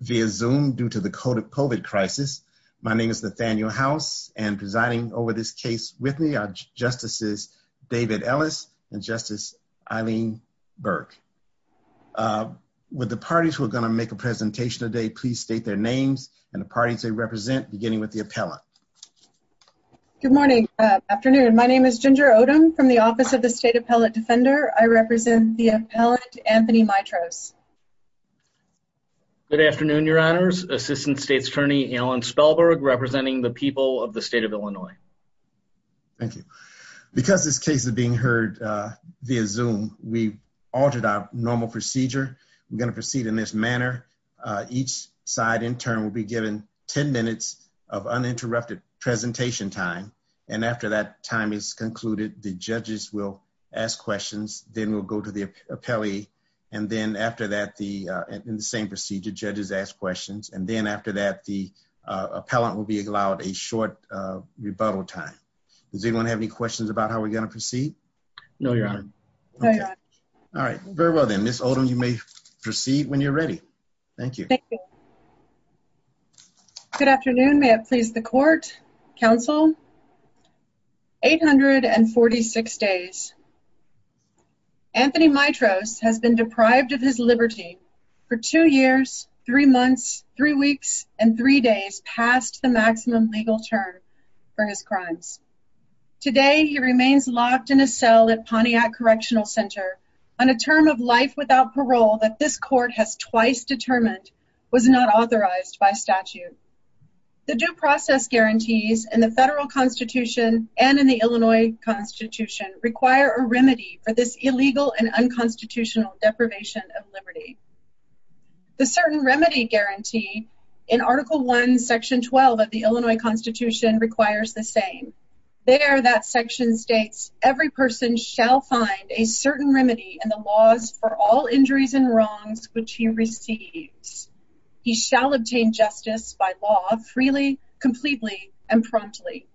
via zoom due to the COVID crisis. My name is Nathaniel House and presiding over this case with me are Justices David Ellis and Justice Eileen Burke. With the parties who are going to make a presentation today please state their names and the parties they represent beginning with the appellant. Good morning, afternoon. My name is Ginger Odom from the Office of the State Appellate Defender. I represent the appellant Anthony Mitros. Good afternoon, your honors. Assistant State's Attorney Alan Spellberg representing the people of the state of Illinois. Thank you. Because this case is being heard via zoom we altered our normal procedure. We're going to proceed in this manner. Each side intern will be given 10 minutes of uninterrupted presentation time and after that time is concluded the judges will ask questions then we'll go to the appellee and then after that the uh in the same procedure judges ask questions and then after that the uh appellant will be allowed a short uh rebuttal time. Does anyone have any questions about how we're going to proceed? No your honor. All right very well then Miss Odom you may proceed when you're ready. Thank you. Good afternoon. May it please the court, council. 846 days. Anthony Mitros has been deprived of his liberty for two years, three months, three weeks, and three days past the maximum legal term for his crimes. Today he remains locked in a cell at Pontiac Correctional Center on a term of life without parole that this court has twice determined was not authorized by statute. The due process guarantees in the federal constitution and in the Illinois constitution require a remedy for this illegal and unconstitutional deprivation of liberty. The certain remedy guarantee in article 1 section 12 of the Illinois constitution requires the same. There that section states every person shall find a certain remedy in the laws for all injuries and wrongs which he receives. He shall obtain justice by law freely, completely, and promptly.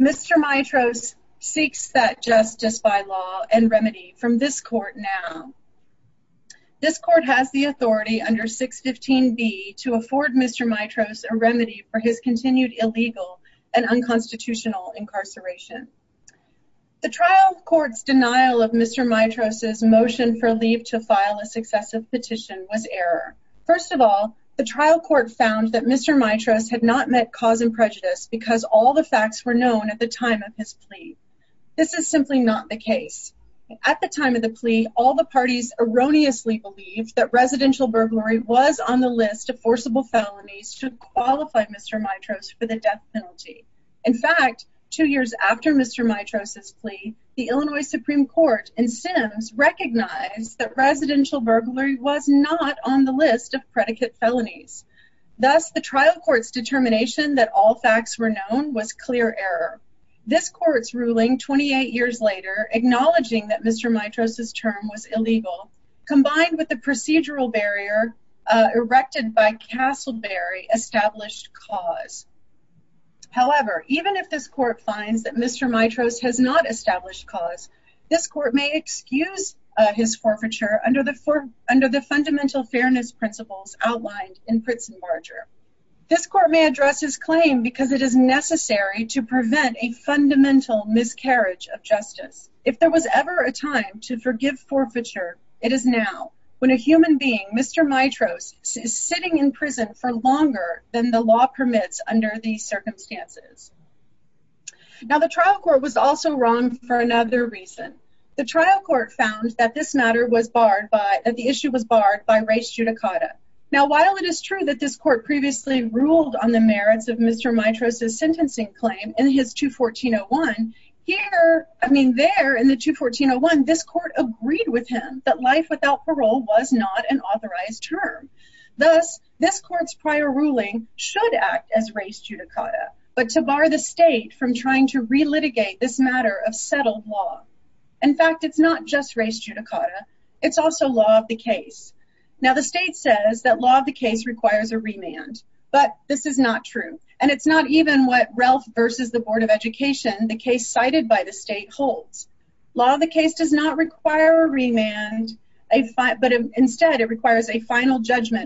Mr. Mitros seeks that justice by law and remedy from this court now. This court has the The trial court's denial of Mr. Mitros' motion for leave to file a successive petition was error. First of all, the trial court found that Mr. Mitros had not met cause and prejudice because all the facts were known at the time of his plea. This is simply not the case. At the time of the plea all the parties erroneously believed that residential burglary was on the list of forcible felonies to qualify Mr. Mitros for the death penalty. In fact, two years after Mr. Mitros' plea, the Illinois Supreme Court and Sims recognized that residential burglary was not on the list of predicate felonies. Thus, the trial court's determination that all facts were known was clear error. This court's ruling 28 years later acknowledging that Mr. Mitros' term was illegal combined with the procedural barrier erected by Castleberry established cause. However, even if this court finds that Mr. Mitros has not established cause, this court may excuse his forfeiture under the fundamental fairness principles outlined in Pritz and Barger. This court may address his claim because it is necessary to prevent a fundamental miscarriage of justice. If there was ever a time to forgive forfeiture, it is now when a human being, Mr. Mitros, is sitting in prison for longer than the law permits under these circumstances. Now, the trial court was also wrong for another reason. The trial court found that this matter was barred by, that the issue was barred by race judicata. Now, while it is true that this court previously ruled on the merits of Mr. Mitros' sentencing claim in his 214-01, here, I mean there in the 214-01, this court agreed with him that life without parole was not an authorized term. Thus, this court's prior ruling should act as race judicata, but to bar the state from trying to re-litigate this matter of settled law. In fact, it's not just race judicata, it's also law of the case. Now, the state says that law of the case requires a final judgment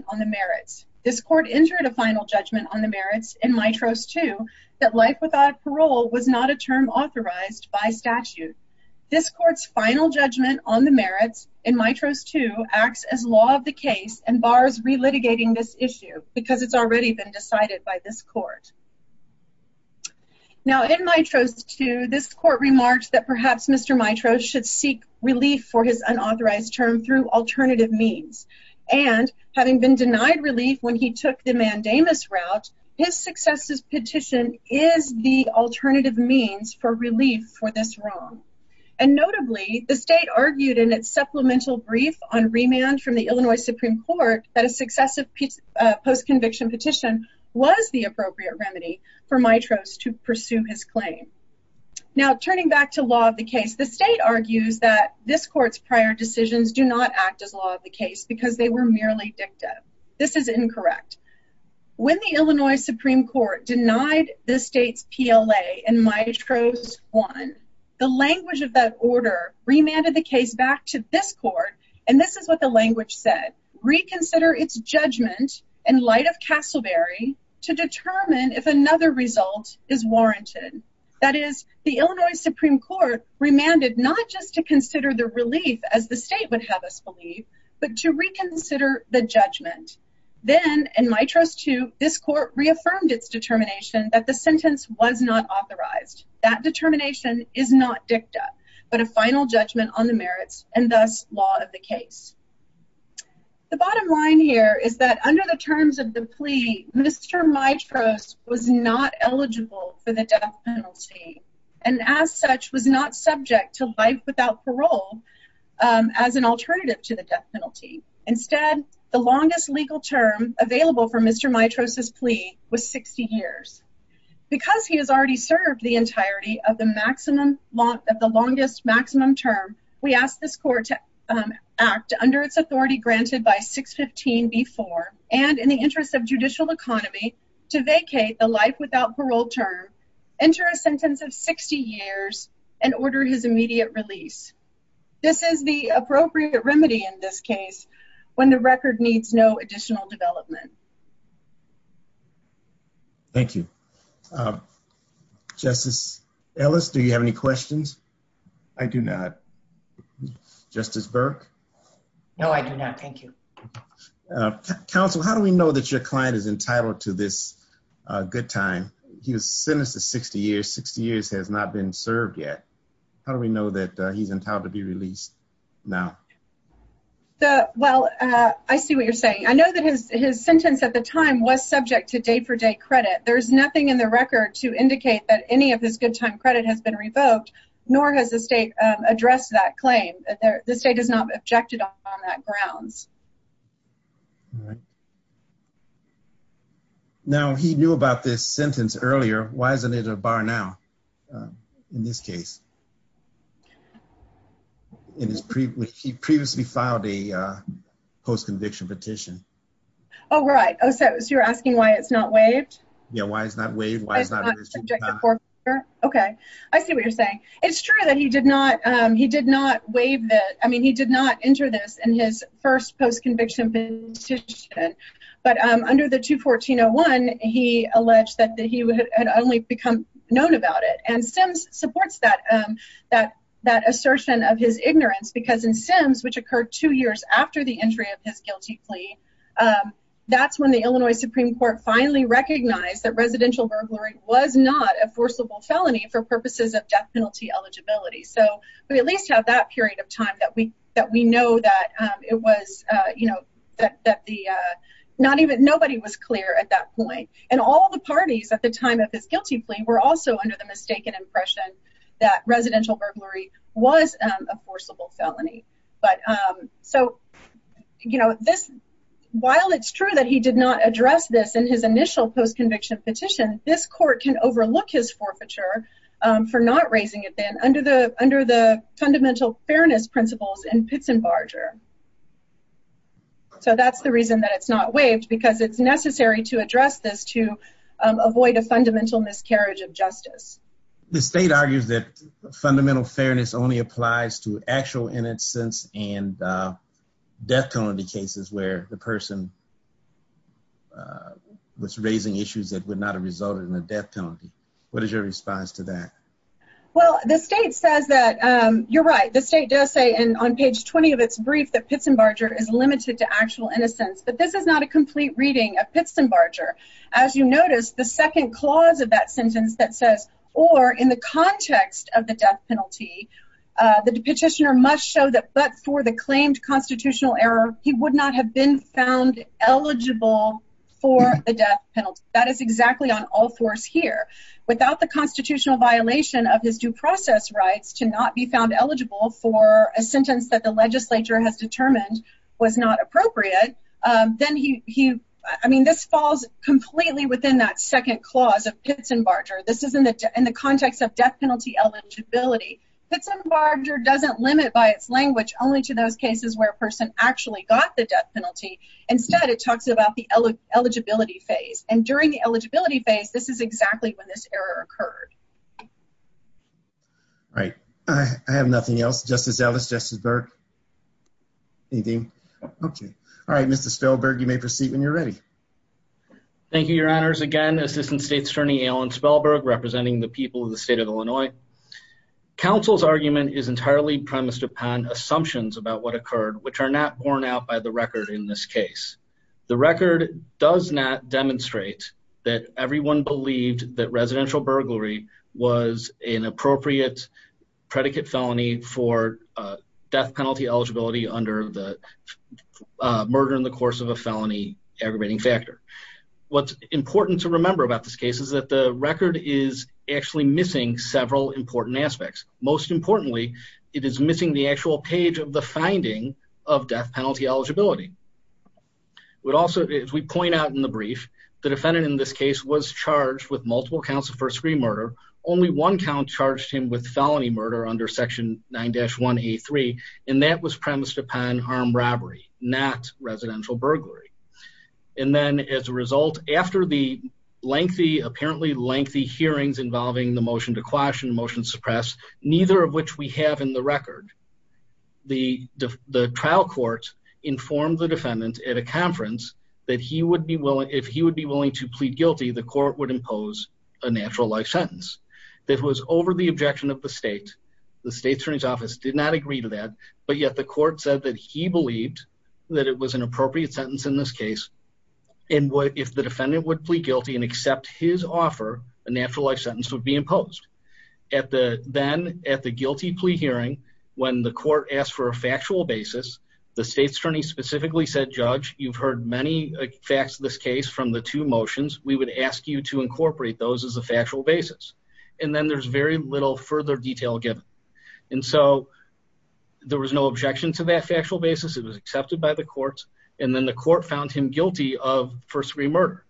on the merits. This court entered a final judgment on the merits in Mitros 2 that life without parole was not a term authorized by statute. This court's final judgment on the merits in Mitros 2 acts as law of the case and bars re-litigating this issue because it's already been decided by this court. Now, in Mitros 2, this court remarks that perhaps Mr. Mitros should seek relief for his unauthorized term through alternative means. And, having been denied relief when he took the mandamus route, his success petition is the alternative means for relief for this wrong. And notably, the state argued in its supplemental brief on remand from the Illinois Supreme Court that a successive post-conviction petition was the appropriate remedy for Mitros to pursue his claim. Now, turning back to law of the case, the state argues that this court's prior decisions do not act as law of the case because they were merely dicta. This is incorrect. When the Illinois Supreme Court denied the state's PLA in Mitros 1, the language of that order remanded the case back to this court, and this is what the language said, reconsider its judgment in light of Castleberry to determine if another result is warranted. That is, the Illinois Supreme Court remanded not just to consider the relief, as the state would have us believe, but to reconsider the judgment. Then, in Mitros 2, this court reaffirmed its determination that the sentence was not authorized. That determination is not dicta, but a final judgment on the merits, and thus, law of the case. The bottom line here is that under the terms of the plea, Mr. Mitros was not eligible for the death penalty, and as such, was not subject to life without parole as an alternative to the death penalty. Instead, the longest legal term available for Mr. Mitros' plea was 60 years. Because he has already served the entirety of the longest maximum term, we ask this court to act under its authority granted by 615B4, and in the interest of judicial economy, to vacate the life without parole term, enter a sentence of 60 years, and order his immediate release. This is the appropriate remedy in this case when the record needs no additional development. Thank you. Justice Ellis, do you have any questions? I do not. Justice Burke? No, I do not. Thank you. Counsel, how do we know that your client is entitled to this good time? He was sentenced to 60 years. 60 years has not been served yet. How do we know that he's entitled to be released now? Well, I see what you're saying. I know that his sentence at the time was subject to day-for-day credit. There's nothing in the record to indicate that any of his good time credit has been revoked, nor has the state addressed that claim. The state has not objected on that grounds. Now, he knew about this sentence earlier. Why isn't it a bar now in this case? Because he previously filed a post-conviction petition. Oh, right. So you're asking why it's not waived? Yeah, why it's not waived. Okay. I see what you're saying. It's true that he did not waive that. I mean, he did not enter this in his first post-conviction petition, but under the 214-01, he alleged that he had only become known about it. And Sims supports that assertion of his ignorance because in Sims, which occurred two years after the entry of his guilty plea, that's when the Illinois Supreme Court finally recognized that residential burglary was not a forcible felony for purposes of death penalty eligibility. So we at least have that period of And all the parties at the time of his guilty plea were also under the mistaken impression that residential burglary was a forcible felony. So while it's true that he did not address this in his initial post-conviction petition, this court can overlook his forfeiture for not raising it then under the fundamental fairness principles in Pitts and Barger. So that's the reason that it's not waived because it's necessary to address this to avoid a fundamental miscarriage of justice. The state argues that fundamental fairness only applies to actual innocence and death penalty cases where the person was raising issues that would not have resulted in a death penalty. What is your response to that? Well, the state says that, you're right, the state does say on page 20 of its brief that Pitts and Barger is limited to actual innocence, but this is not a complete reading of Pitts and Barger. As you notice, the second clause of that sentence that says, or in the context of the death penalty, the petitioner must show that but for the claimed constitutional error, he would not have been found eligible for the death penalty. That is exactly on all fours here. Without the constitutional violation of his due process rights to not be found eligible for a sentence that the legislature has determined was not appropriate, then he, I mean, this falls completely within that second clause of Pitts and Barger. This is in the context of death penalty eligibility. Pitts and Barger doesn't limit by its language only to those cases where a person actually got the death penalty. Instead, it talks about the eligibility phase. And during the eligibility phase, this is exactly when this error occurred. All right. I have nothing else. Justice Ellis, Justice Burke. Anything? Okay. All right, Mr. Spellberg, you may proceed when you're ready. Thank you, Your Honors. Again, Assistant State's Attorney Alan Spellberg representing the people of the state of Illinois. Counsel's argument is entirely premised upon assumptions about what occurred, which are not borne out by the record in this case. The record does not demonstrate that everyone believed that residential burglary was an appropriate predicate felony for death penalty eligibility under the murder in the course of a felony aggravating factor. What's important to remember about this case is that the record is actually missing several important aspects. Most importantly, it is missing the actual page of the finding of death penalty eligibility. We'd also, as we point out in the brief, the defendant in this case was charged with multiple counts of first degree murder. Only one count charged him with felony murder under Section 9-1A3. And that was premised upon armed robbery, not residential burglary. And then as a result, after the lengthy, apparently lengthy hearings involving the motion to quash and the motion to suppress, neither of which we have in the record, the trial court informed the defendant at a conference that if he would be willing to plead guilty, the court would impose a natural life sentence. That was over the objection of the state. The State's Attorney's Office did not agree to that, but yet the court said that he believed that it was an appropriate sentence in this case. And if the defendant would plead guilty and accept his offer, a natural life sentence would be imposed. Then at the guilty plea hearing, when the court asked for a factual basis, the State's Attorney specifically said, Judge, you've heard many facts of this case from the two motions. We would ask you to incorporate those as a factual basis. And then there's very little further detail given. And so there was no objection to that factual basis. It was accepted by the courts. And then the court found him guilty of first degree murder.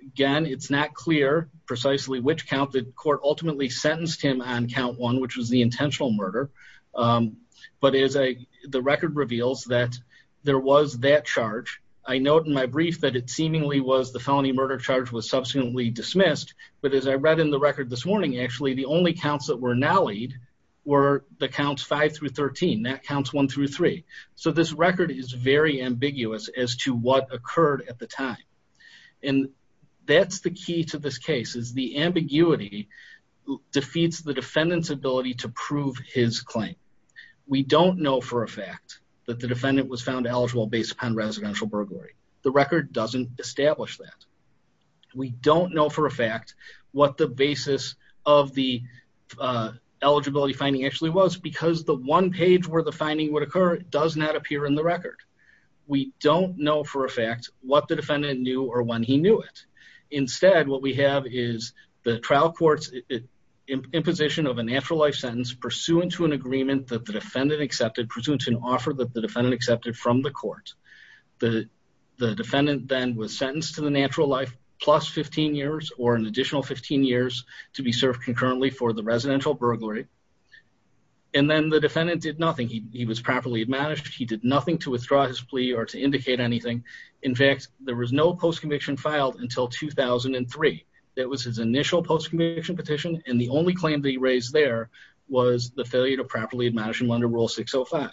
Again, it's not clear precisely which count the court ultimately sentenced him on count one, which was the intentional murder. But as the record reveals that there was that charge, I note in my brief that it seemingly was the felony murder charge was subsequently dismissed. But as I read in the record this morning, actually, the only counts that were now lead were the counts five through 13, that counts one through three. So this record is very ambiguous as to what occurred at the time. And that's the key to this case is the ambiguity defeats the defendant's ability to prove his claim. We don't know for a fact that the defendant was found eligible based upon residential burglary. The record doesn't establish that. We don't know for a fact what the basis of the eligibility finding actually was because the one page where the finding would occur does not appear in the or when he knew it. Instead, what we have is the trial court's imposition of a natural life sentence pursuant to an agreement that the defendant accepted pursuant to an offer that the defendant accepted from the court. The defendant then was sentenced to the natural life plus 15 years or an additional 15 years to be served concurrently for the residential burglary. And then the defendant did nothing. He was properly admonished. He did nothing to withdraw or to indicate anything. In fact, there was no post-conviction filed until 2003. That was his initial post-conviction petition. And the only claim that he raised there was the failure to properly admonish him under rule 605.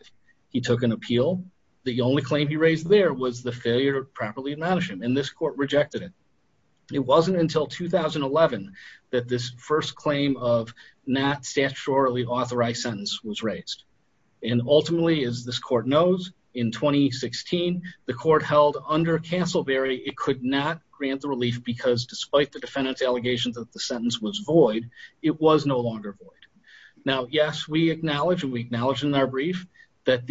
He took an appeal. The only claim he raised there was the failure to properly admonish him and this court rejected it. It wasn't until 2011 that this first claim of not statutorily authorized sentence was raised. And ultimately, as this court knows, in 2016, the court held under Castleberry, it could not grant the relief because despite the defendant's allegations that the sentence was void, it was no longer void. Now, yes, we acknowledge and we acknowledge in our brief that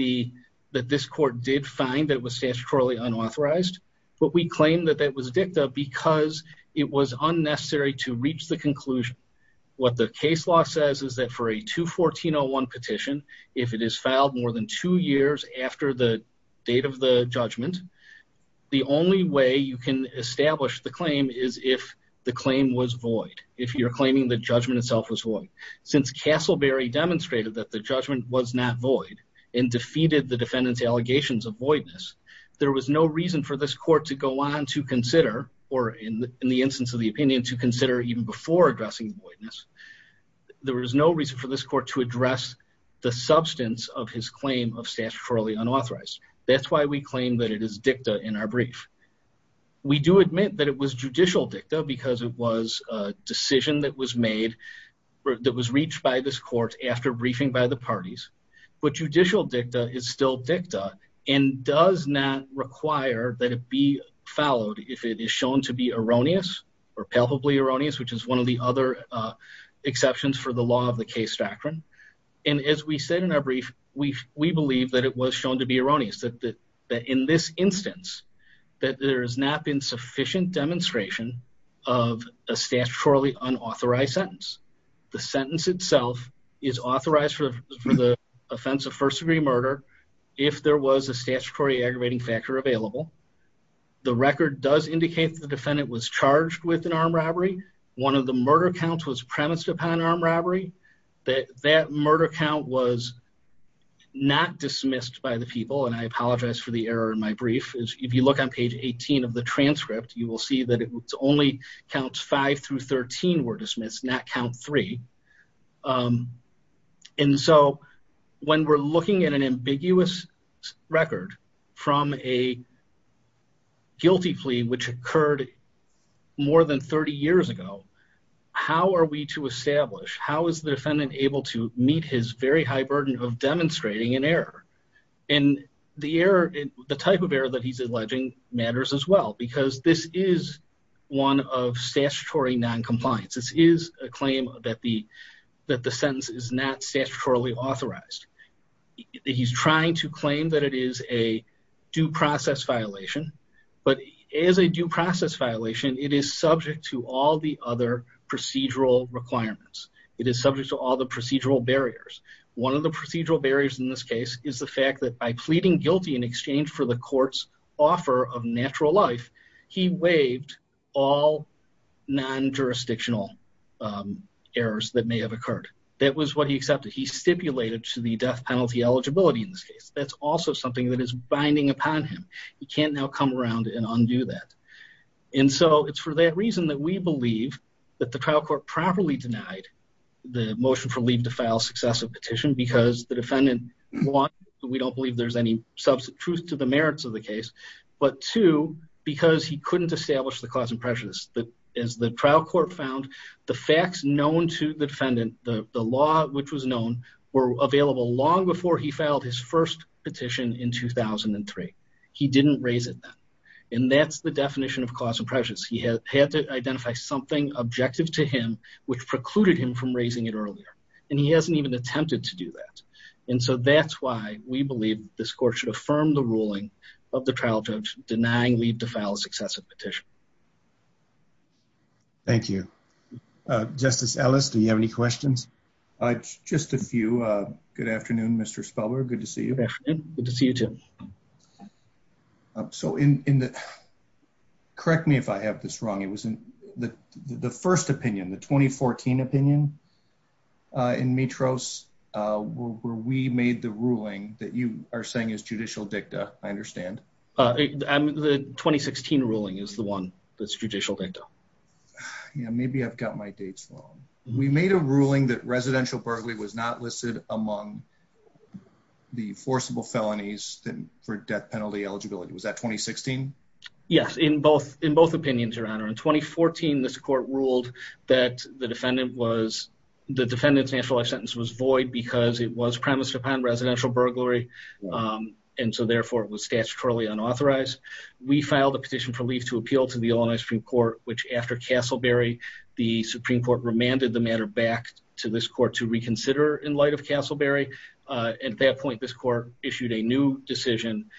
this court did find that it was statutorily unauthorized, but we claim that that was dicta because it was unnecessary to reach the conclusion. What the case law says is that for a 214-01 petition, if it is filed more than two years after the date of the judgment, the only way you can establish the claim is if the claim was void, if you're claiming the judgment itself was void. Since Castleberry demonstrated that the judgment was not void and defeated the defendant's allegations of voidness, there was no reason for this court to go on to consider, or in the instance of the opinion, to consider even before addressing voidness. There was no reason for this court to address the substance of his claim of statutorily unauthorized. That's why we claim that it is dicta in our brief. We do admit that it was judicial dicta because it was a decision that was made, that was reached by this court after briefing by the parties, but judicial dicta is still dicta and does not require that it be followed if it is shown to be erroneous or palpably erroneous, which is one of the other exceptions for the law of the case doctrine. And as we said in our brief, we believe that it was shown to be erroneous, that in this instance, that there has not been sufficient demonstration of a statutorily unauthorized sentence. The sentence itself is authorized for the offense of first-degree murder if there was a statutory aggravating factor available. The record does indicate the defendant was charged with an armed robbery. One of the murder counts was premised upon armed robbery. That murder count was not dismissed by the people, and I apologize for the error in my brief. If you look on page 18 of the transcript, you will see that it only counts five through 13 were dismissed, not count three. And so when we're looking at an ambiguous record from a guilty plea which occurred more than 30 years ago, how are we to establish, how is the defendant able to meet his very high burden of demonstrating an error? And the type of error that he's alleging matters as well, because this is one of statutory non-compliance. This is a claim that the sentence is not statutorily authorized. He's trying to claim that it is a due process violation, but as a due process violation, it is subject to all the other procedural requirements. It is subject to all the procedural barriers. One of the procedural barriers in this case is the fact that by pleading guilty in exchange for the court's offer of natural life, he waived all non-jurisdictional errors that may have occurred. That was what he accepted. He stipulated to the death penalty eligibility in this case. That's also something that is binding upon him. He can't now come around and undo that. And so it's for that reason that we believe that the trial court properly denied the motion for leave to file successive petition because the defendant, one, we don't believe there's any truth to the merits of the case, but two, because he couldn't establish the cause and prejudice. As the trial court found, the facts known to the defendant, the law which was known, were available long before he filed his first petition in 2003. He didn't raise it then. And that's the definition of cause and prejudice. He had to identify something objective to him which precluded him from raising it earlier. And he hasn't even attempted to do that. And so that's why we believe this court should affirm the ruling of the trial judge denying leave to file successive petition. Thank you. Justice Ellis, do you have any questions? Just a few. Good afternoon, Mr. Spellberg. Good to see you. Good to see you too. So in the, correct me if I have this wrong, it was in the first opinion, the 2014 opinion in Mitros where we made the ruling that you are saying is judicial dicta, I understand. The 2016 ruling is the one that's judicial dicta. Yeah, maybe I've got my dates wrong. We made a ruling that residential burglary was not listed among the forcible felonies for death penalty eligibility. Was that 2016? Yes, in both, in both opinions, your honor. In 2014, this court ruled that the defendant was, the defendant's natural life sentence was void because it was premised upon residential burglary. And so therefore it was statutorily unauthorized. We filed a petition for leave to appeal to the Illinois Supreme Court, which after Castleberry, the Supreme Court remanded the matter back to this court to reconsider in light of Castleberry. At that point, this court issued a new decision.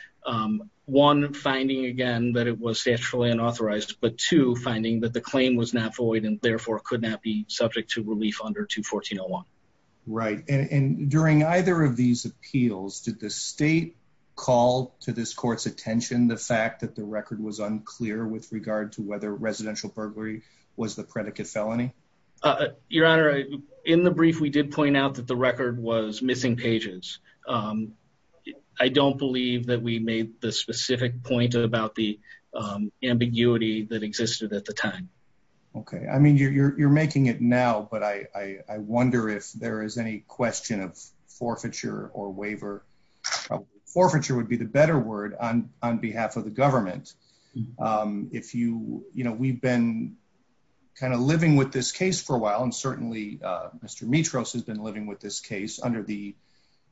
One finding again, that it was statutorily unauthorized, but two finding that the claim was not void and therefore could not be During either of these appeals, did the state call to this court's attention? The fact that the record was unclear with regard to whether residential burglary was the predicate felony? Your honor, in the brief, we did point out that the record was missing pages. I don't believe that we made the specific point about the ambiguity that existed at the time. Okay. I mean, you're, you're, you're making it now, but I, I, I wonder if there is any question of forfeiture or waiver. Forfeiture would be the better word on, on behalf of the government. If you, you know, we've been kind of living with this case for a while. And certainly, Mr. Mitros has been living with this case under the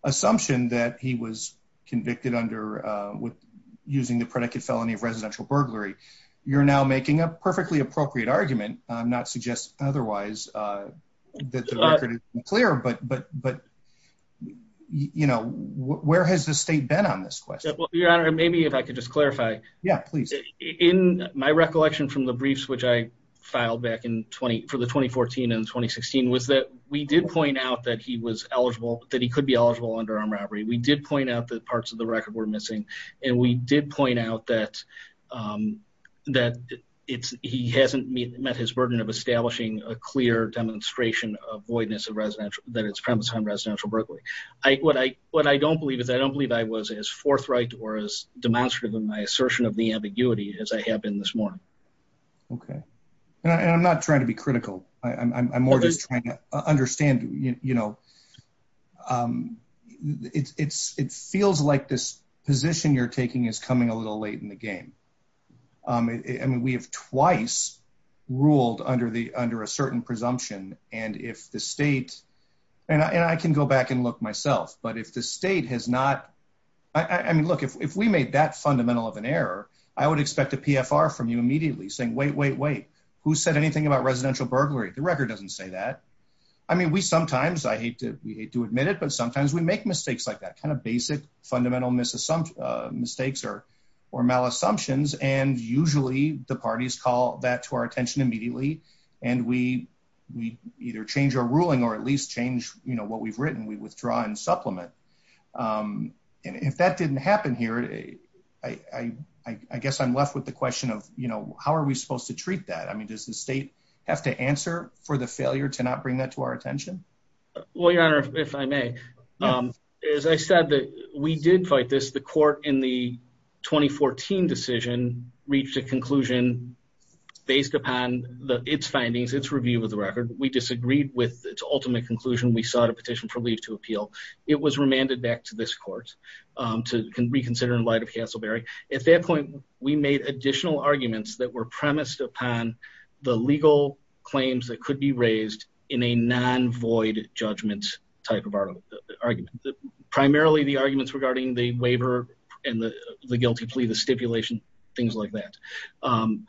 assumption that he was convicted under, with using the predicate felony of residential burglary. You're now making a perfectly appropriate argument. I'm not suggesting otherwise that the record is unclear, but, but, but, you know, where has the state been on this question? Well, your honor, maybe if I could just clarify. Yeah, please. In my recollection from the briefs, which I filed back in 20 for the 2014 and 2016 was that we did point out that he was eligible that he could be eligible under armed robbery. We did point out that parts of the record were missing. And we did point out that, um, that it's, he hasn't met his burden of establishing a clear demonstration of voidness of residential that it's premise on residential Berkeley. I, what I, what I don't believe is I don't believe I was as forthright or as demonstrative in my assertion of the ambiguity as I have been this morning. Okay. And I'm not trying to be critical. I'm more just trying to understand, you know, um, it's, it's, it feels like this position you're taking is coming a little late in the game. Um, I mean, we have twice ruled under the, under a certain presumption. And if the state and I, and I can go back and look myself, but if the state has not, I mean, look, if, if we made that fundamental of an error, I would expect a PFR from you immediately saying, wait, wait, wait, who said anything about residential burglary? The record doesn't say that. I mean, we, sometimes I hate to, we hate to admit it, but sometimes we make mistakes like that kind of basic fundamental misses some mistakes or, or malassumptions. And usually the parties call that to our attention immediately. And we, we either change our ruling or at least change, you know, what we've written, we withdraw and supplement. Um, and if that didn't happen here, I, I, I guess I'm left with the question of, you know, how are we supposed to to not bring that to our attention? Well, your honor, if I may, um, as I said that we did fight this, the court in the 2014 decision reached a conclusion based upon the, its findings, its review of the record. We disagreed with its ultimate conclusion. We sought a petition for leave to appeal. It was remanded back to this court, um, to reconsider in light of Castleberry. At that point, we made additional arguments that were premised upon the legal claims that could be in a non void judgment type of argument, primarily the arguments regarding the waiver and the guilty plea, the stipulation, things like that. Um,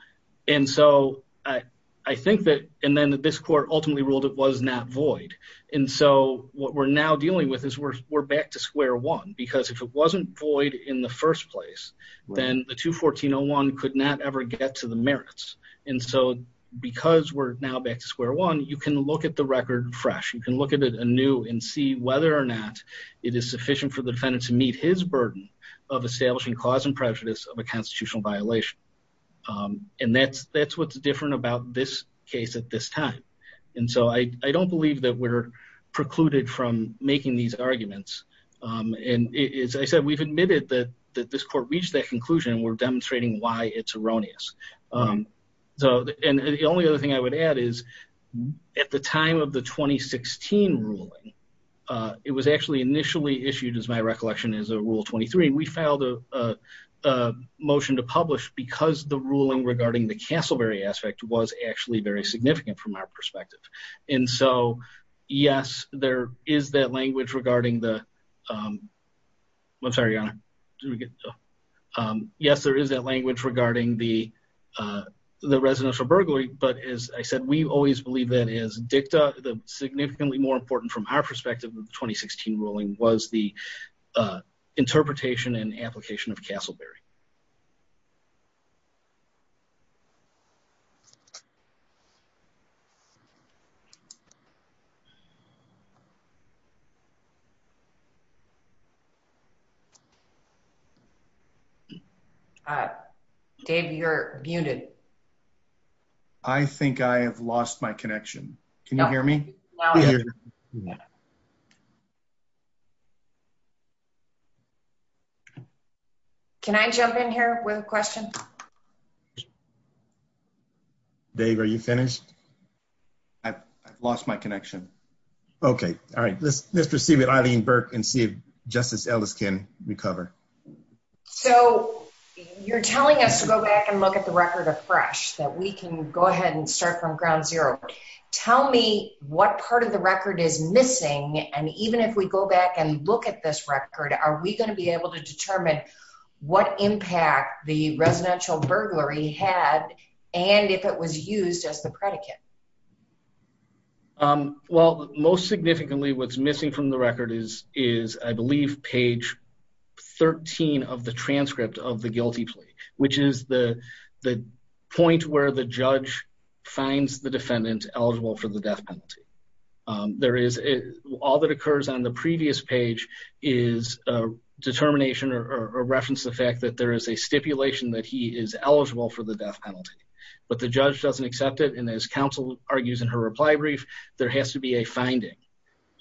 and so I, I think that, and then this court ultimately ruled it was not void. And so what we're now dealing with is we're, we're back to square one, because if it wasn't void in the first place, then the two 1401 could not ever get to the merits. And so because we're now back to square one, you can look at the record fresh. You can look at a new and see whether or not it is sufficient for the defendant to meet his burden of establishing cause and prejudice of a constitutional violation. Um, and that's, that's, what's different about this case at this time. And so I, I don't believe that we're precluded from making these arguments. Um, and as I said, we've admitted that, that this court reached that conclusion and we're demonstrating why it's erroneous. Um, so, and the only other thing I would add is at the time of the 2016 ruling, uh, it was actually initially issued as my recollection is a rule 23. We filed a, a, a motion to publish because the ruling regarding the Castleberry aspect was actually very significant from our perspective. And so yes, there is that language regarding the, um, I'm sorry. Yes, there is that language regarding the, uh, the residential burglary. But as I said, we always believe that as dicta, the significantly more important from our perspective of the 2016 ruling was the, uh, interpretation and application of Castleberry. Okay. Uh, Dave, you're muted. I think I have lost my connection. Can you hear me? Can I jump in here with a question? Dave, are you finished? I've lost my connection. Okay. All right. Let's, let's proceed with Eileen Burke and see if justice Ellis can recover. So you're telling us to go back and look at the record of fresh that we can go ahead and start from ground zero. Tell me what part of the record is missing. And even if we go back and look at this record, are we going to be able to and if it was used as the predicate? Um, well, most significantly what's missing from the record is, is I believe page 13 of the transcript of the guilty plea, which is the point where the judge finds the defendant eligible for the death penalty. Um, there is all that occurs on the previous page is a determination or, or reference the fact that there is a stipulation that he is eligible for the death penalty, but the judge doesn't accept it. And as counsel argues in her reply brief, there has to be a finding.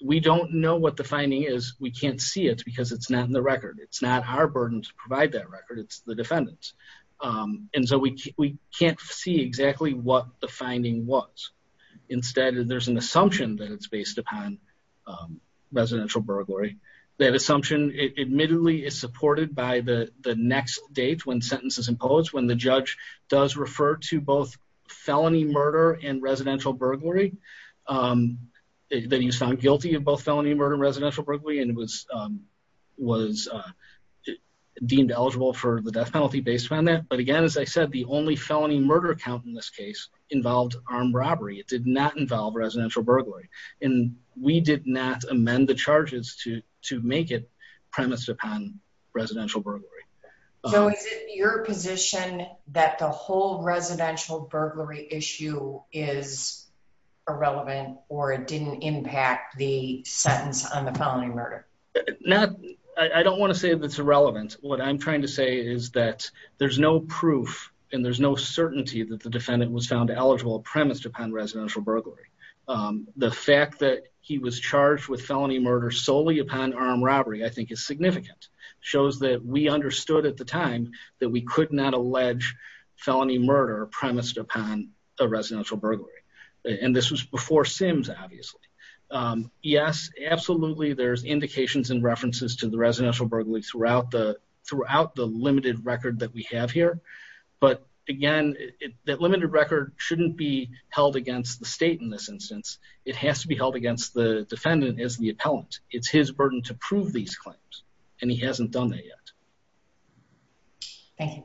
We don't know what the finding is. We can't see it because it's not in the record. It's not our burden to provide that record. It's the defendants. Um, and so we, we can't see exactly what the finding was. Instead, there's an assumption that it's based upon, um, residential burglary. That assumption admittedly is supported by the, the next date when sentences imposed, when the judge does refer to both felony murder and residential burglary, um, that he was found guilty of both felony murder and residential burglary. And it was, um, was, uh, deemed eligible for the death penalty based on that. But again, as I said, the only felony murder account in this case involved armed robbery. It did not involve residential burglary and we did not amend the charges to, to make it premise upon residential burglary. So is it your position that the whole residential burglary issue is irrelevant or it didn't impact the sentence on the felony murder? Not, I don't want to say that it's irrelevant. What I'm trying to say is that there's no proof and there's no certainty that the defendant was found eligible premised upon residential burglary. Um, the fact that he was charged with felony understood at the time that we could not allege felony murder premised upon a residential burglary. And this was before Sims, obviously. Um, yes, absolutely. There's indications and references to the residential burglary throughout the, throughout the limited record that we have here. But again, that limited record shouldn't be held against the state in this instance. It has to be held against the defendant as the appellant. It's his burden to prove these claims and he hasn't done that yet. Thank you.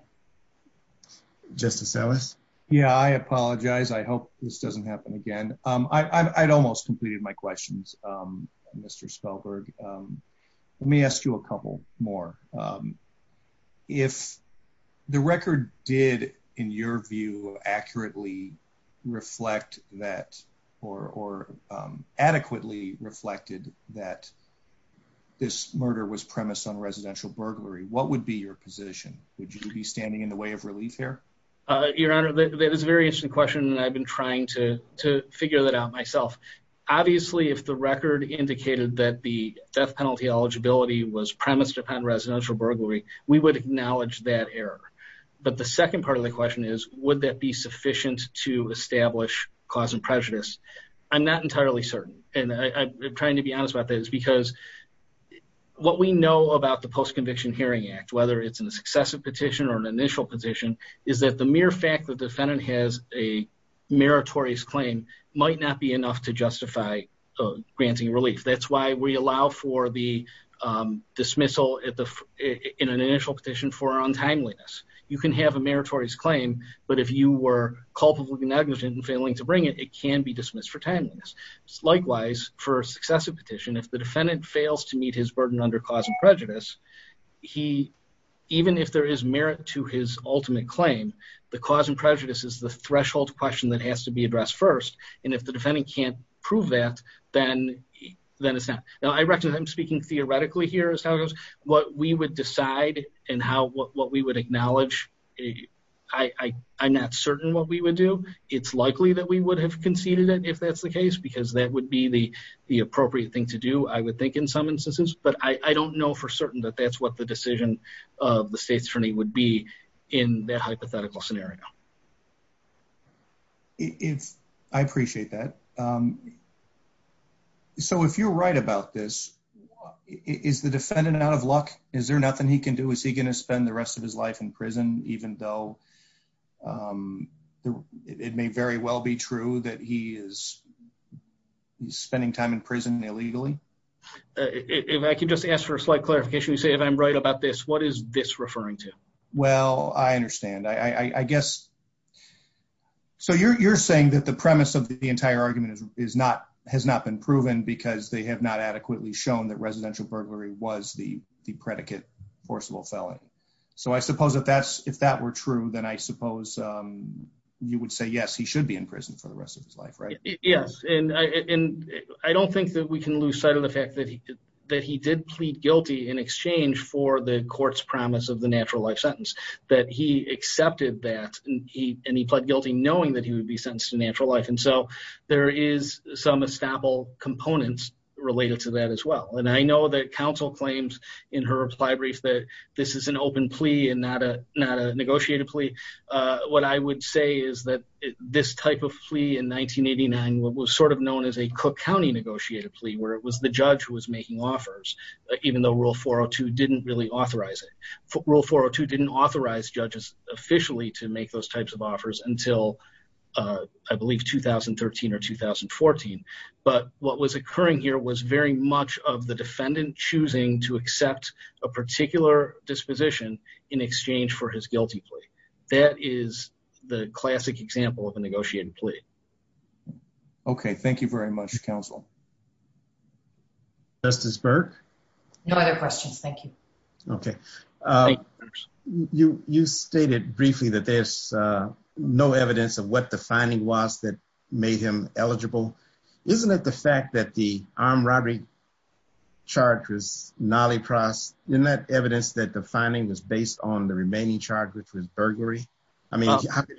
Justice Ellis. Yeah, I apologize. I hope this doesn't happen again. Um, I, I'd almost completed my questions. Um, Mr Spellberg, um, let me ask you a couple more. Um, if the record did in your view accurately reflect that or, or, um, adequately reflected that this murder was premised on residential burglary, what would be your position? Would you be standing in the way of relief here? Uh, your honor, that is a very interesting question. And I've been trying to, to figure that out myself. Obviously, if the record indicated that the death penalty eligibility was premised upon residential burglary, we would acknowledge that error. But the second part of the question is, would that be sufficient to establish cause and prejudice? I'm not entirely certain. And I'm trying to be honest about that is because what we know about the post conviction hearing act, whether it's in a successive petition or an initial position is that the mere fact that defendant has a meritorious claim might not be enough to justify granting relief. That's why we allow for the, um, dismissal at the, in an initial petition for untimeliness, you can have a meritorious claim, but if you were culpably negligent and failing to bring it, it can be dismissed for timeliness. Likewise for a successive petition, if the defendant fails to meet his burden under cause and prejudice, he, even if there is merit to his ultimate claim, the cause and prejudice is the threshold question that has to be addressed first. And if the defendant can't prove that, then, then it's not. Now I recognize I'm speaking theoretically here as how it goes, what we would decide and how, what we would it's likely that we would have conceded it if that's the case, because that would be the, the appropriate thing to do, I would think in some instances, but I don't know for certain that that's what the decision of the state's attorney would be in that hypothetical scenario. If I appreciate that. Um, so if you're right about this, is the defendant out of luck? Is there nothing he can do? Is he going to spend the rest of his life in prison, even though, um, it may very well be true that he is spending time in prison illegally. If I can just ask for a slight clarification, you say, if I'm right about this, what is this referring to? Well, I understand. I guess. So you're, you're saying that the premise of the entire argument is, is not, has not been proven because they have not adequately shown that residential burglary was the, the predicate forcible felony. So I suppose if that's, if that were true, then I suppose, um, you would say, yes, he should be in prison for the rest of his life, right? Yes. And I, and I don't think that we can lose sight of the fact that he, that he did plead guilty in exchange for the court's promise of the natural life sentence, that he accepted that he, and he pled guilty knowing that he would be sentenced to natural life. And so there is some estoppel components related to that as well. And I know that council claims in her reply brief, that this is an open plea and not a, not a negotiated plea. Uh, what I would say is that this type of plea in 1989, what was sort of known as a Cook County negotiated plea, where it was the judge who was making offers, even though rule 402 didn't really authorize it. Rule 402 didn't authorize judges officially to make those types of offers until, uh, I believe 2013 or 2014. But what was occurring here was very much of the defendant choosing to accept a particular disposition in exchange for his guilty plea. That is the classic example of a negotiated plea. Okay. Thank you very much. Counsel. Justice Burke. No other questions. Thank you. Okay. Uh, you, you stated briefly that there's, uh, no evidence of what the finding was that made him eligible. Isn't it the fact that the armed robbery charge was not a price in that evidence that the finding was based on the remaining charge, which was burglary. I mean, how can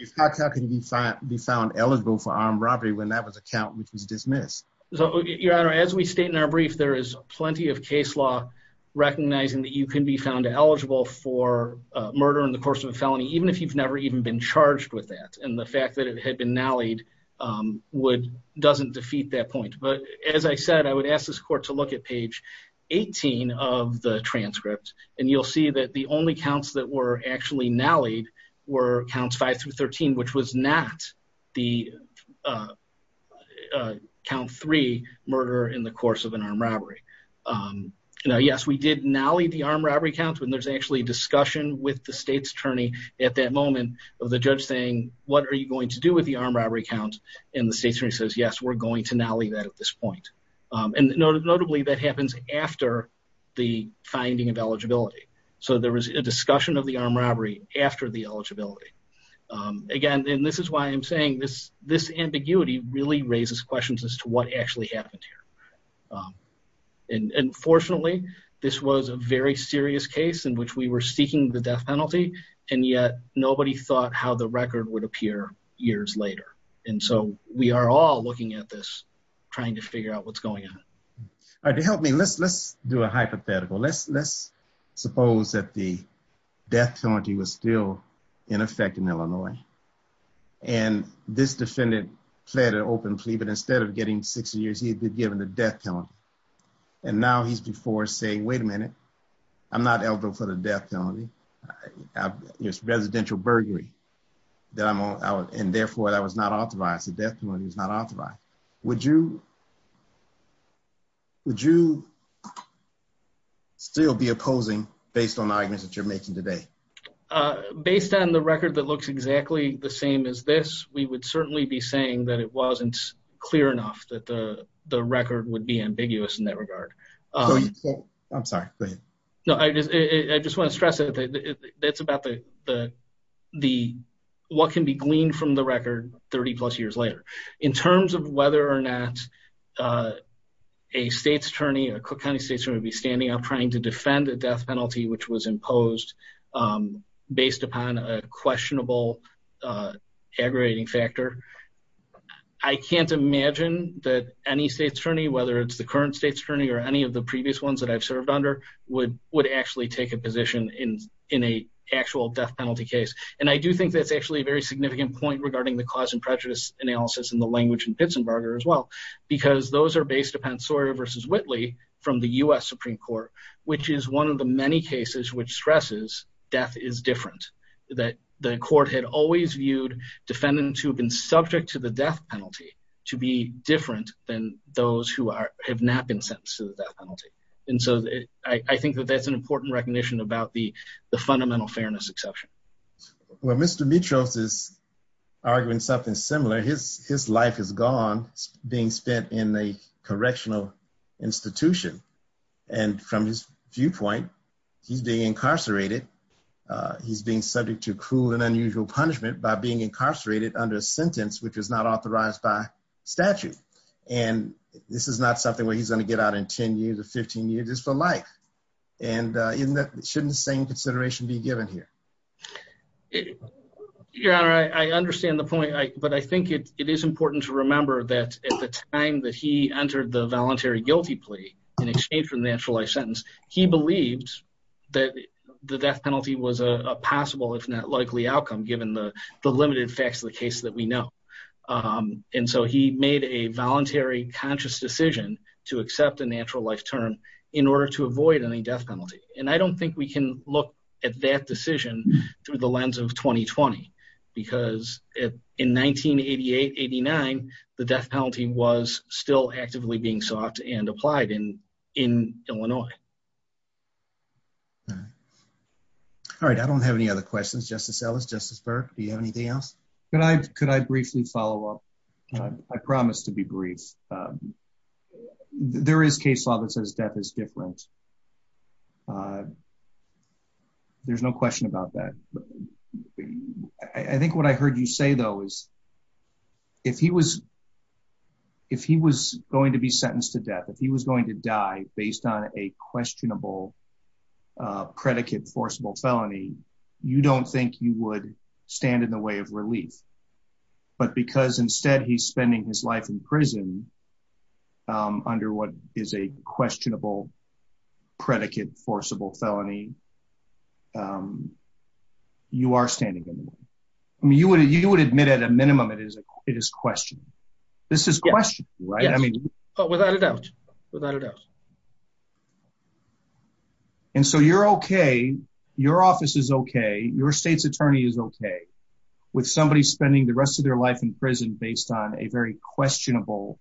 you be found eligible for armed robbery when that was a count, which was dismissed. So your honor, as we state in our brief, there is plenty of case law recognizing that you can be found eligible for a murder in the course of a felony, even if you've never even been charged with that. And the fact that it had been now lead, um, would doesn't defeat that point. But as I said, I would ask this court to look at page 18 of the transcript and you'll see that the only counts that were actually now lead were counts five through 13, which was not the, uh, uh, count three murder in the course of an armed robbery. Um, you know, yes, we did now lead the armed robbery count when there's actually discussion with the state's attorney at that moment of the judge saying, what are you going to do with the armed robbery count and the state attorney says, yes, we're going to now leave that at this point. Um, and notably that happens after the finding of eligibility. So there was a discussion of the armed robbery after the eligibility. Um, again, and this is why I'm saying this, this ambiguity really raises questions as to what actually happened here. Um, and, and fortunately this was a very serious case in which we were seeking the death penalty and yet nobody thought how the record would appear years later. And so we are all looking at this trying to figure out what's going on. All right. To help me, let's, let's do a hypothetical. Let's, let's suppose that the death penalty was still in effect in Illinois and this defendant fled an open plea, but instead of getting 60 years, he had been given the death penalty. And now he's before saying, wait a minute, I'm not eligible for the death penalty. It's residential burglary that I'm on. And therefore that was not authorized. The death penalty was not authorized. Would you, would you still be opposing based on the arguments that you're making today? Uh, based on the record that looks exactly the same as this, we would certainly be saying that it wasn't clear enough that the, the record would be ambiguous in that regard. I'm sorry. Go ahead. No, I just, I just want to stress that it's about the, the, the, what can be gleaned from the record 30 plus years later in terms of whether or not, uh, a state's attorney or Cook County state's going to be standing up trying to defend the death penalty, which was imposed, um, based upon a questionable, uh, aggregating factor. I can't imagine that any state's attorney, whether it's the current state's attorney or any of the previous ones that I've served under would, would actually take a position in, in a actual death penalty case. And I do think that's actually a very significant point regarding the cause and prejudice analysis and the language and Pittsburgh as well, because those are based upon Sawyer versus Whitley from the U S Supreme Court, which is one of the many cases, which stresses death is different that the court had always viewed defendants who have been subject to the death penalty to be different than those who are, have not been sentenced to the death penalty. And so I think that that's an important recognition about the, the fundamental fairness exception. Well, Mr. Mitros is arguing something similar. His life is gone being spent in a correctional institution. And from his viewpoint, he's being incarcerated. Uh, he's being subject to cruel and unusual punishment by being incarcerated under a sentence, which was not authorized by statute. And this is not something where he's going to get out in 10 years or 15 years for life. And, uh, isn't that, shouldn't the same It is important to remember that at the time that he entered the voluntary guilty plea in exchange for the natural life sentence, he believed that the death penalty was a possible, if not likely outcome, given the limited facts of the case that we know. Um, and so he made a voluntary conscious decision to accept a natural life term in order to avoid any death penalty. And I don't think we can look at that decision through the lens of 2020, because in 1988, 89, the death penalty was still actively being sought and applied in, in Illinois. All right. I don't have any other questions. Justice Ellis, Justice Burke, do you have anything else? Can I, could I briefly follow up? I promise to be brief. Um, there is case law that says death is different. Uh, there's no question about that. I think what I heard you say though, is if he was, if he was going to be sentenced to death, if he was going to die based on a questionable, uh, predicate forcible felony, you don't think you would stand in the way of relief, but because instead he's spending his life in prison, under what is a questionable predicate forcible felony, um, you are standing in the way. I mean, you would, you would admit at a minimum it is, it is questioning. This is questioning, right? I mean, without a doubt, without a doubt. And so you're okay. Your office is okay. Your state's attorney is okay with somebody spending the rest of their life in prison based on a very questionable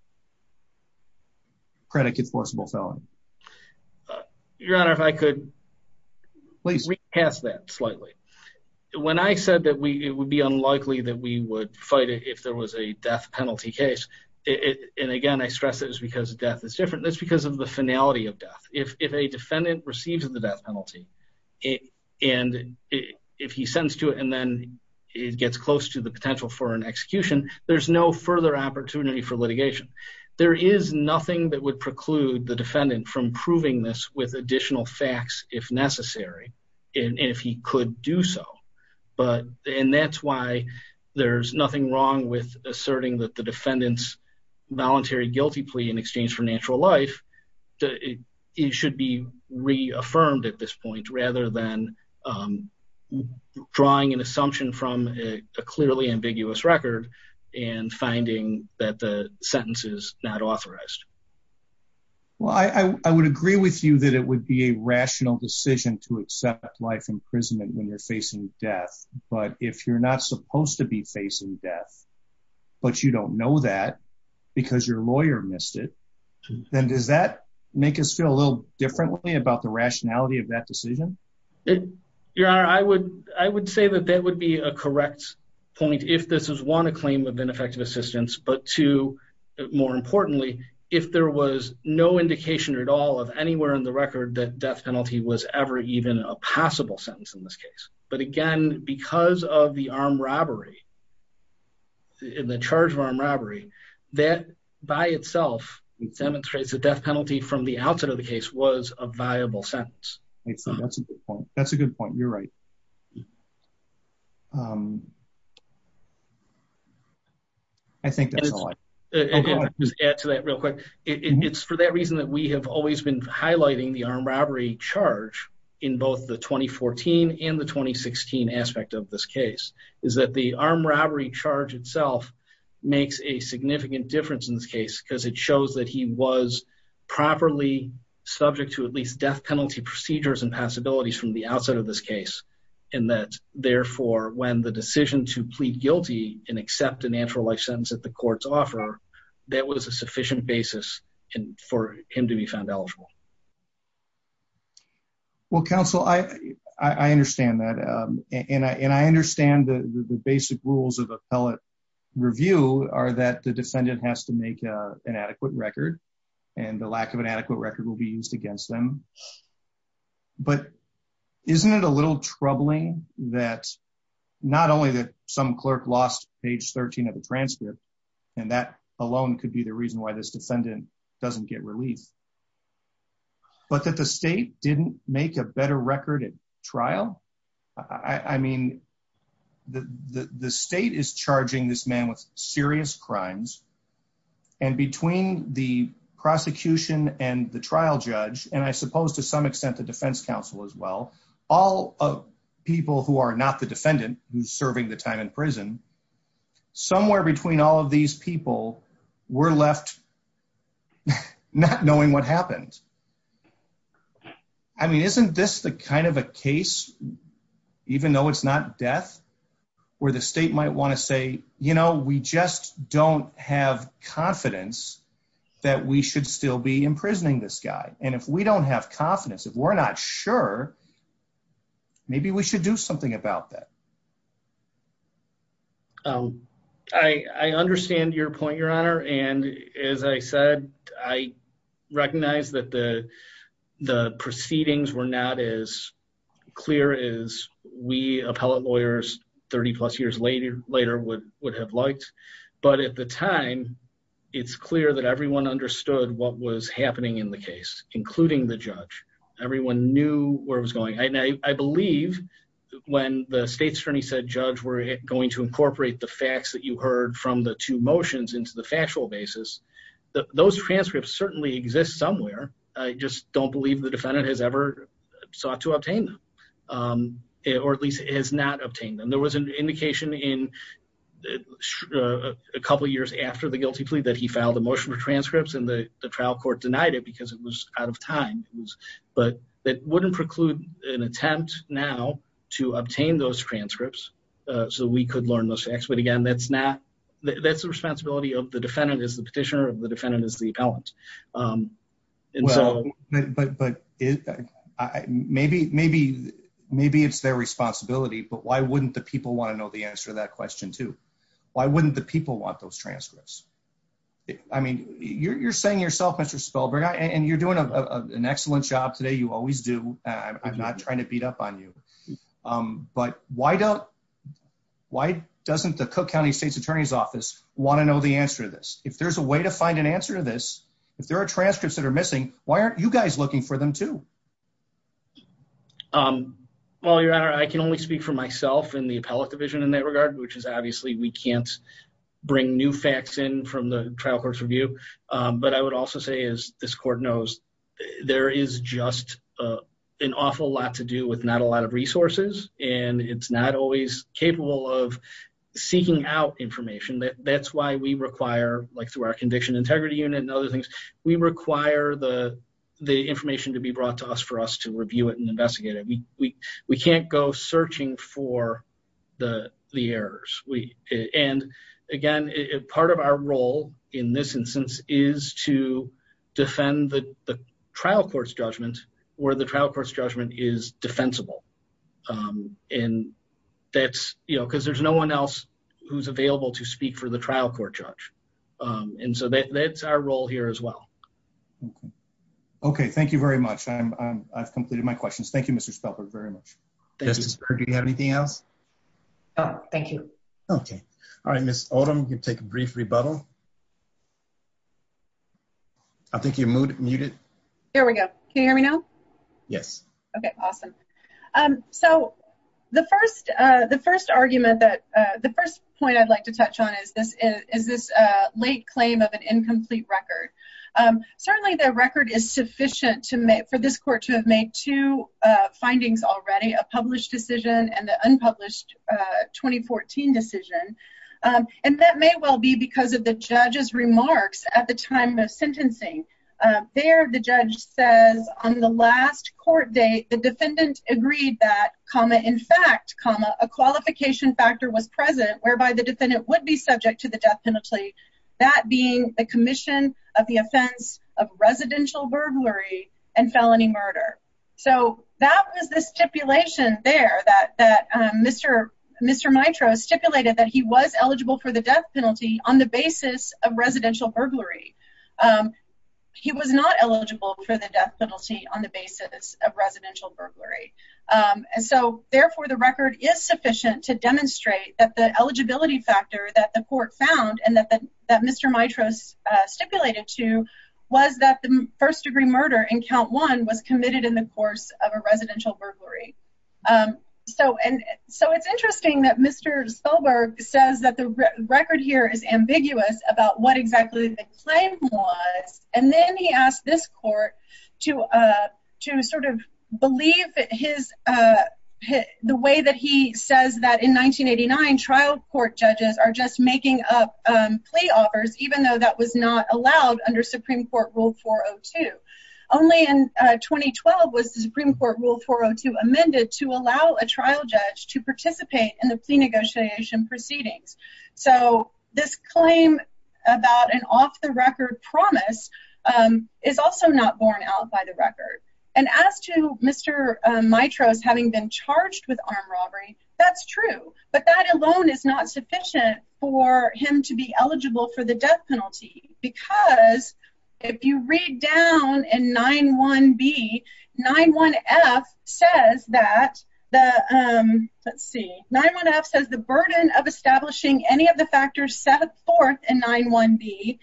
predicate forcible felony. Uh, your honor, if I could please pass that slightly. When I said that we, it would be unlikely that we would fight it if there was a death penalty case. It, and again, I stress that it was because of death is different. That's because of the finality of death. If, if a defendant receives the death penalty and if he sends to it and then it gets close to the potential for an execution, there's no further opportunity for litigation. There is nothing that would preclude the defendant from proving this with additional facts if necessary. And if he could do so, but, and that's why there's nothing wrong with asserting that the defendant's voluntary guilty plea in exchange for natural life, it should be reaffirmed at this point, rather than, um, drawing an assumption from a clearly ambiguous record and finding that the sentence is not authorized. Well, I, I would agree with you that it would be a rational decision to accept life imprisonment when you're facing death, but if you're not supposed to be facing death, but you don't know that because your lawyer missed it, then does that make us feel a little differently about the rationality of that decision? Your honor, I would, I would say that that point, if this is one, a claim of ineffective assistance, but two, more importantly, if there was no indication at all of anywhere in the record that death penalty was ever even a possible sentence in this case. But again, because of the armed robbery in the charge of armed robbery, that by itself demonstrates the death penalty from the outset of the case was a viable sentence. That's a good point. That's a good point. You're right. Um, I think that's all I can add to that real quick. It's for that reason that we have always been highlighting the armed robbery charge in both the 2014 and the 2016 aspect of this case is that the armed robbery charge itself makes a significant difference in this case because it shows that he was properly subject to at least death penalty procedures and possibilities from the outset of this case. And that therefore, when the decision to plead guilty and accept an actual life sentence at the court's offer, that was a sufficient basis for him to be found eligible. Well, counsel, I, I understand that. Um, and I, and I understand the basic rules of appellate review are that the defendant has to make an adequate record and the lack of an adequate record will be used against them. But isn't it a little troubling that not only that some clerk lost page 13 of the transcript and that alone could be the reason why this defendant doesn't get relief, but that the state didn't make a better record at trial. I mean, the, the, the state is charging this man with serious crimes and between the prosecution and the trial judge, and I suppose to some extent, the defense counsel as well, all of people who are not the defendant who's serving the time in prison, somewhere between all of these people were left not knowing what happened. I mean, isn't this the kind of a case, even though it's not death where the state might want to say, you know, we just don't have confidence that we should still be imprisoning this guy. And if we don't have confidence, if we're not sure, maybe we should do something about that. Um, I, I understand your point, your honor. And as I said, I recognize that the, the proceedings were not as clear as we appellate lawyers 30 plus years later, later would, would have liked. But at the time, it's clear that everyone understood what was happening in the case, including the judge. Everyone knew where it was going. I believe when the state's attorney said, judge, we're going to incorporate the facts that you heard from the two motions into the factual basis. Those transcripts certainly exist somewhere. I just don't believe the defendant has ever sought to obtain them. Um, or at least it has not obtained them. There was an indication in a couple of years after the guilty plea that he filed a motion for transcripts and the trial court denied it because it was out of time, but that wouldn't preclude an attempt now to obtain those transcripts. Uh, so we could learn those facts, but again, that's not, that's the responsibility of the defendant is the petitioner of the defendant is the appellant. Um, but, but, but maybe, maybe, maybe it's their responsibility, but why wouldn't the people want to know the answer to that question too? Why wouldn't the people want those transcripts? I mean, you're, you're saying yourself, Mr. Spellberg, and you're doing an excellent job today. You always do. I'm not trying to beat up on you. Um, but why don't, why doesn't the Cook County state's attorney's office want to know the answer to this? If there's a way to find an answer to this, if there are transcripts that are missing, why aren't you guys looking for them too? Um, well, your honor, I can only speak for myself and the appellate division in that regard, which is obviously we can't bring new facts in from the trial court's review. Um, but I would also say is this court knows there is just, uh, an awful lot to do with it. It's not always capable of seeking out information that that's why we require like through our conviction integrity unit and other things, we require the, the information to be brought to us for us to review it and investigate it. We, we, we can't go searching for the, the errors we, and again, if part of our role in this instance is to defend the trial court's judgment is defensible. Um, and that's, you know, cause there's no one else who's available to speak for the trial court judge. Um, and so that's our role here as well. Okay. Thank you very much. I'm, I'm, I've completed my questions. Thank you, Mr. Spellberg very much. Do you have anything else? Oh, thank you. Okay. All right. Ms. Odom, you can take a brief rebuttal. I think your mood muted. Here we go. Can you hear me now? Yes. Okay. Awesome. Um, so the first, uh, the first argument that, uh, the first point I'd like to touch on is this, is this a late claim of an incomplete record? Um, certainly the record is sufficient to make for this court to have made two, uh, findings already, a published decision and the unpublished, uh, 2014 decision. Um, and that may well be because of the judge's remarks at the time of sentencing, uh, there, the judge says on the last court date, the defendant agreed that comma, in fact, comma, a qualification factor was present whereby the defendant would be subject to the death penalty. That being the commission of the offense of residential burglary and felony murder. So that was the stipulation there that, that, um, Mr. Mr. Mitra stipulated that he was eligible for the death penalty on the basis of residential burglary. Um, he was not eligible for the death penalty on the basis of residential burglary. Um, and so therefore the record is sufficient to demonstrate that the eligibility factor that the court found and that the, that Mr. Mitra's, uh, stipulated to was that the first degree murder in count one was committed in the course of a residential burglary. Um, so, and so it's interesting that Mr. Soberg says that the record here is ambiguous about what exactly the claim was. And then he asked this court to, uh, to sort of believe his, uh, the way that he says that in 1989 trial court judges are just making up, um, plea offers, even though that was not allowed under Supreme court rule 402 only in 2012 was the Supreme court rule 402 amended to allow a trial judge to participate in the plea negotiation proceedings. So this claim about an off the record promise, um, is also not borne out by the record. And as to Mr. Mitra's having been charged with armed robbery, that's true, but that alone is not sufficient for him to be eligible for the because if you read down and nine one B nine one F says that the, um, let's see, nine one F says the burden of establishing any of the factors set forth and nine one B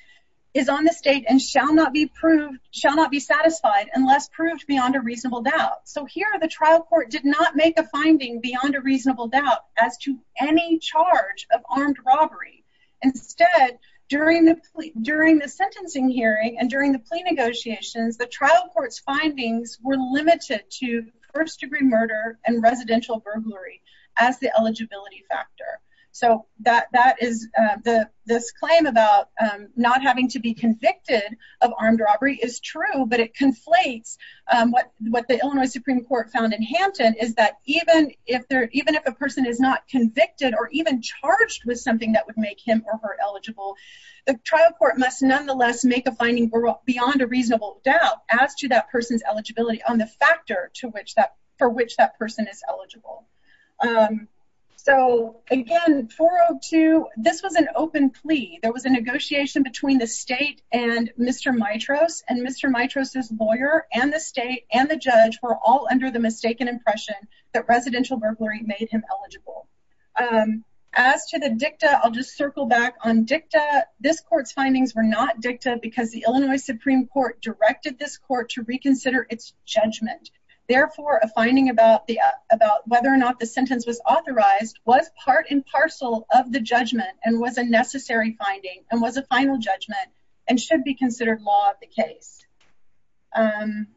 is on the state and shall not be proved, shall not be satisfied unless proved beyond a reasonable doubt. So here are the trial court did not make a finding beyond a reasonable doubt as to any charge of armed robbery. Instead, during the, during the sentencing hearing and during the plea negotiations, the trial court's findings were limited to first degree murder and residential burglary as the eligibility factor. So that, that is, uh, the, this claim about, um, not having to be convicted of armed robbery is true, but it conflates, um, what, what the Illinois Supreme Court found in Hampton is that even if they're, even if a person is not convicted or even charged with something that would make him or her eligible, the trial court must nonetheless make a finding beyond a reasonable doubt as to that person's eligibility on the factor to which that for which that person is eligible. Um, so again, 402, this was an open plea. There was a negotiation between the state and Mr. Mitra's and Mr. Mitra's lawyer and the state and the judge were all under the mistaken impression that residential burglary made him eligible. Um, as to the dicta, I'll just circle back on dicta. This court's findings were not dicta because the Illinois Supreme Court directed this court to reconsider its judgment. Therefore, a finding about the, uh, about whether or not the sentence was authorized was part and parcel of the judgment and was a necessary finding and was a final judgment and should be considered law of the case. Um,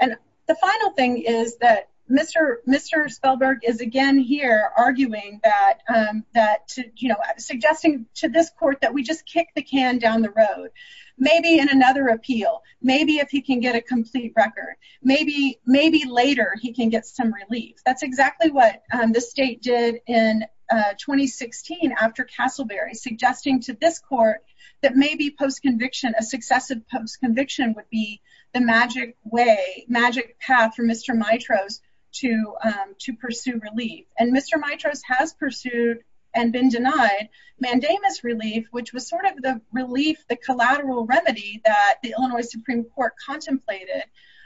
and the final thing is that Mr. Mr. Spellberg is again here arguing that, um, that to, you know, suggesting to this court that we just kick the can down the road, maybe in another appeal, maybe if he can get a complete record, maybe, maybe later he can get some relief. That's exactly what the state did in, uh, 2016 after Castleberry suggesting to this court that maybe post conviction would be the magic way, magic path for Mr. Mitra's to, um, to pursue relief. And Mr. Mitra's has pursued and been denied mandamus relief, which was sort of the relief, the collateral remedy that the Illinois Supreme Court contemplated,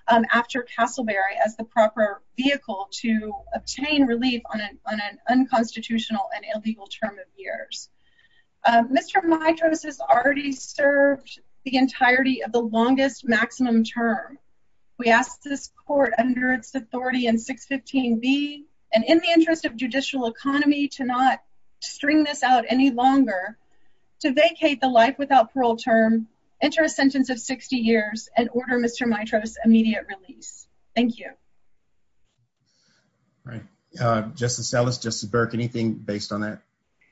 um, after Castleberry as the proper vehicle to obtain relief on an, on an unconstitutional and illegal term of years. Um, Mr. Mitra's has already served the entirety of the longest maximum term. We asked this court under its authority and six 15 B and in the interest of judicial economy to not string this out any longer to vacate the life without parole term, enter a sentence of 60 years and order Mr. Mitra's immediate release. Thank you. All right. Uh, justice Ellis, justice Burke, anything based on that?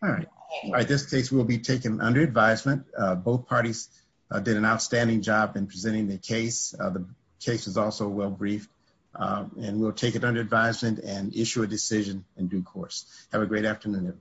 All right. All right. This case will be taken under advisement. Uh, both parties did an outstanding job in presenting the case. Uh, the case is also well briefed, um, and we'll take it under advisement and issue a decision in due course. Have a great afternoon.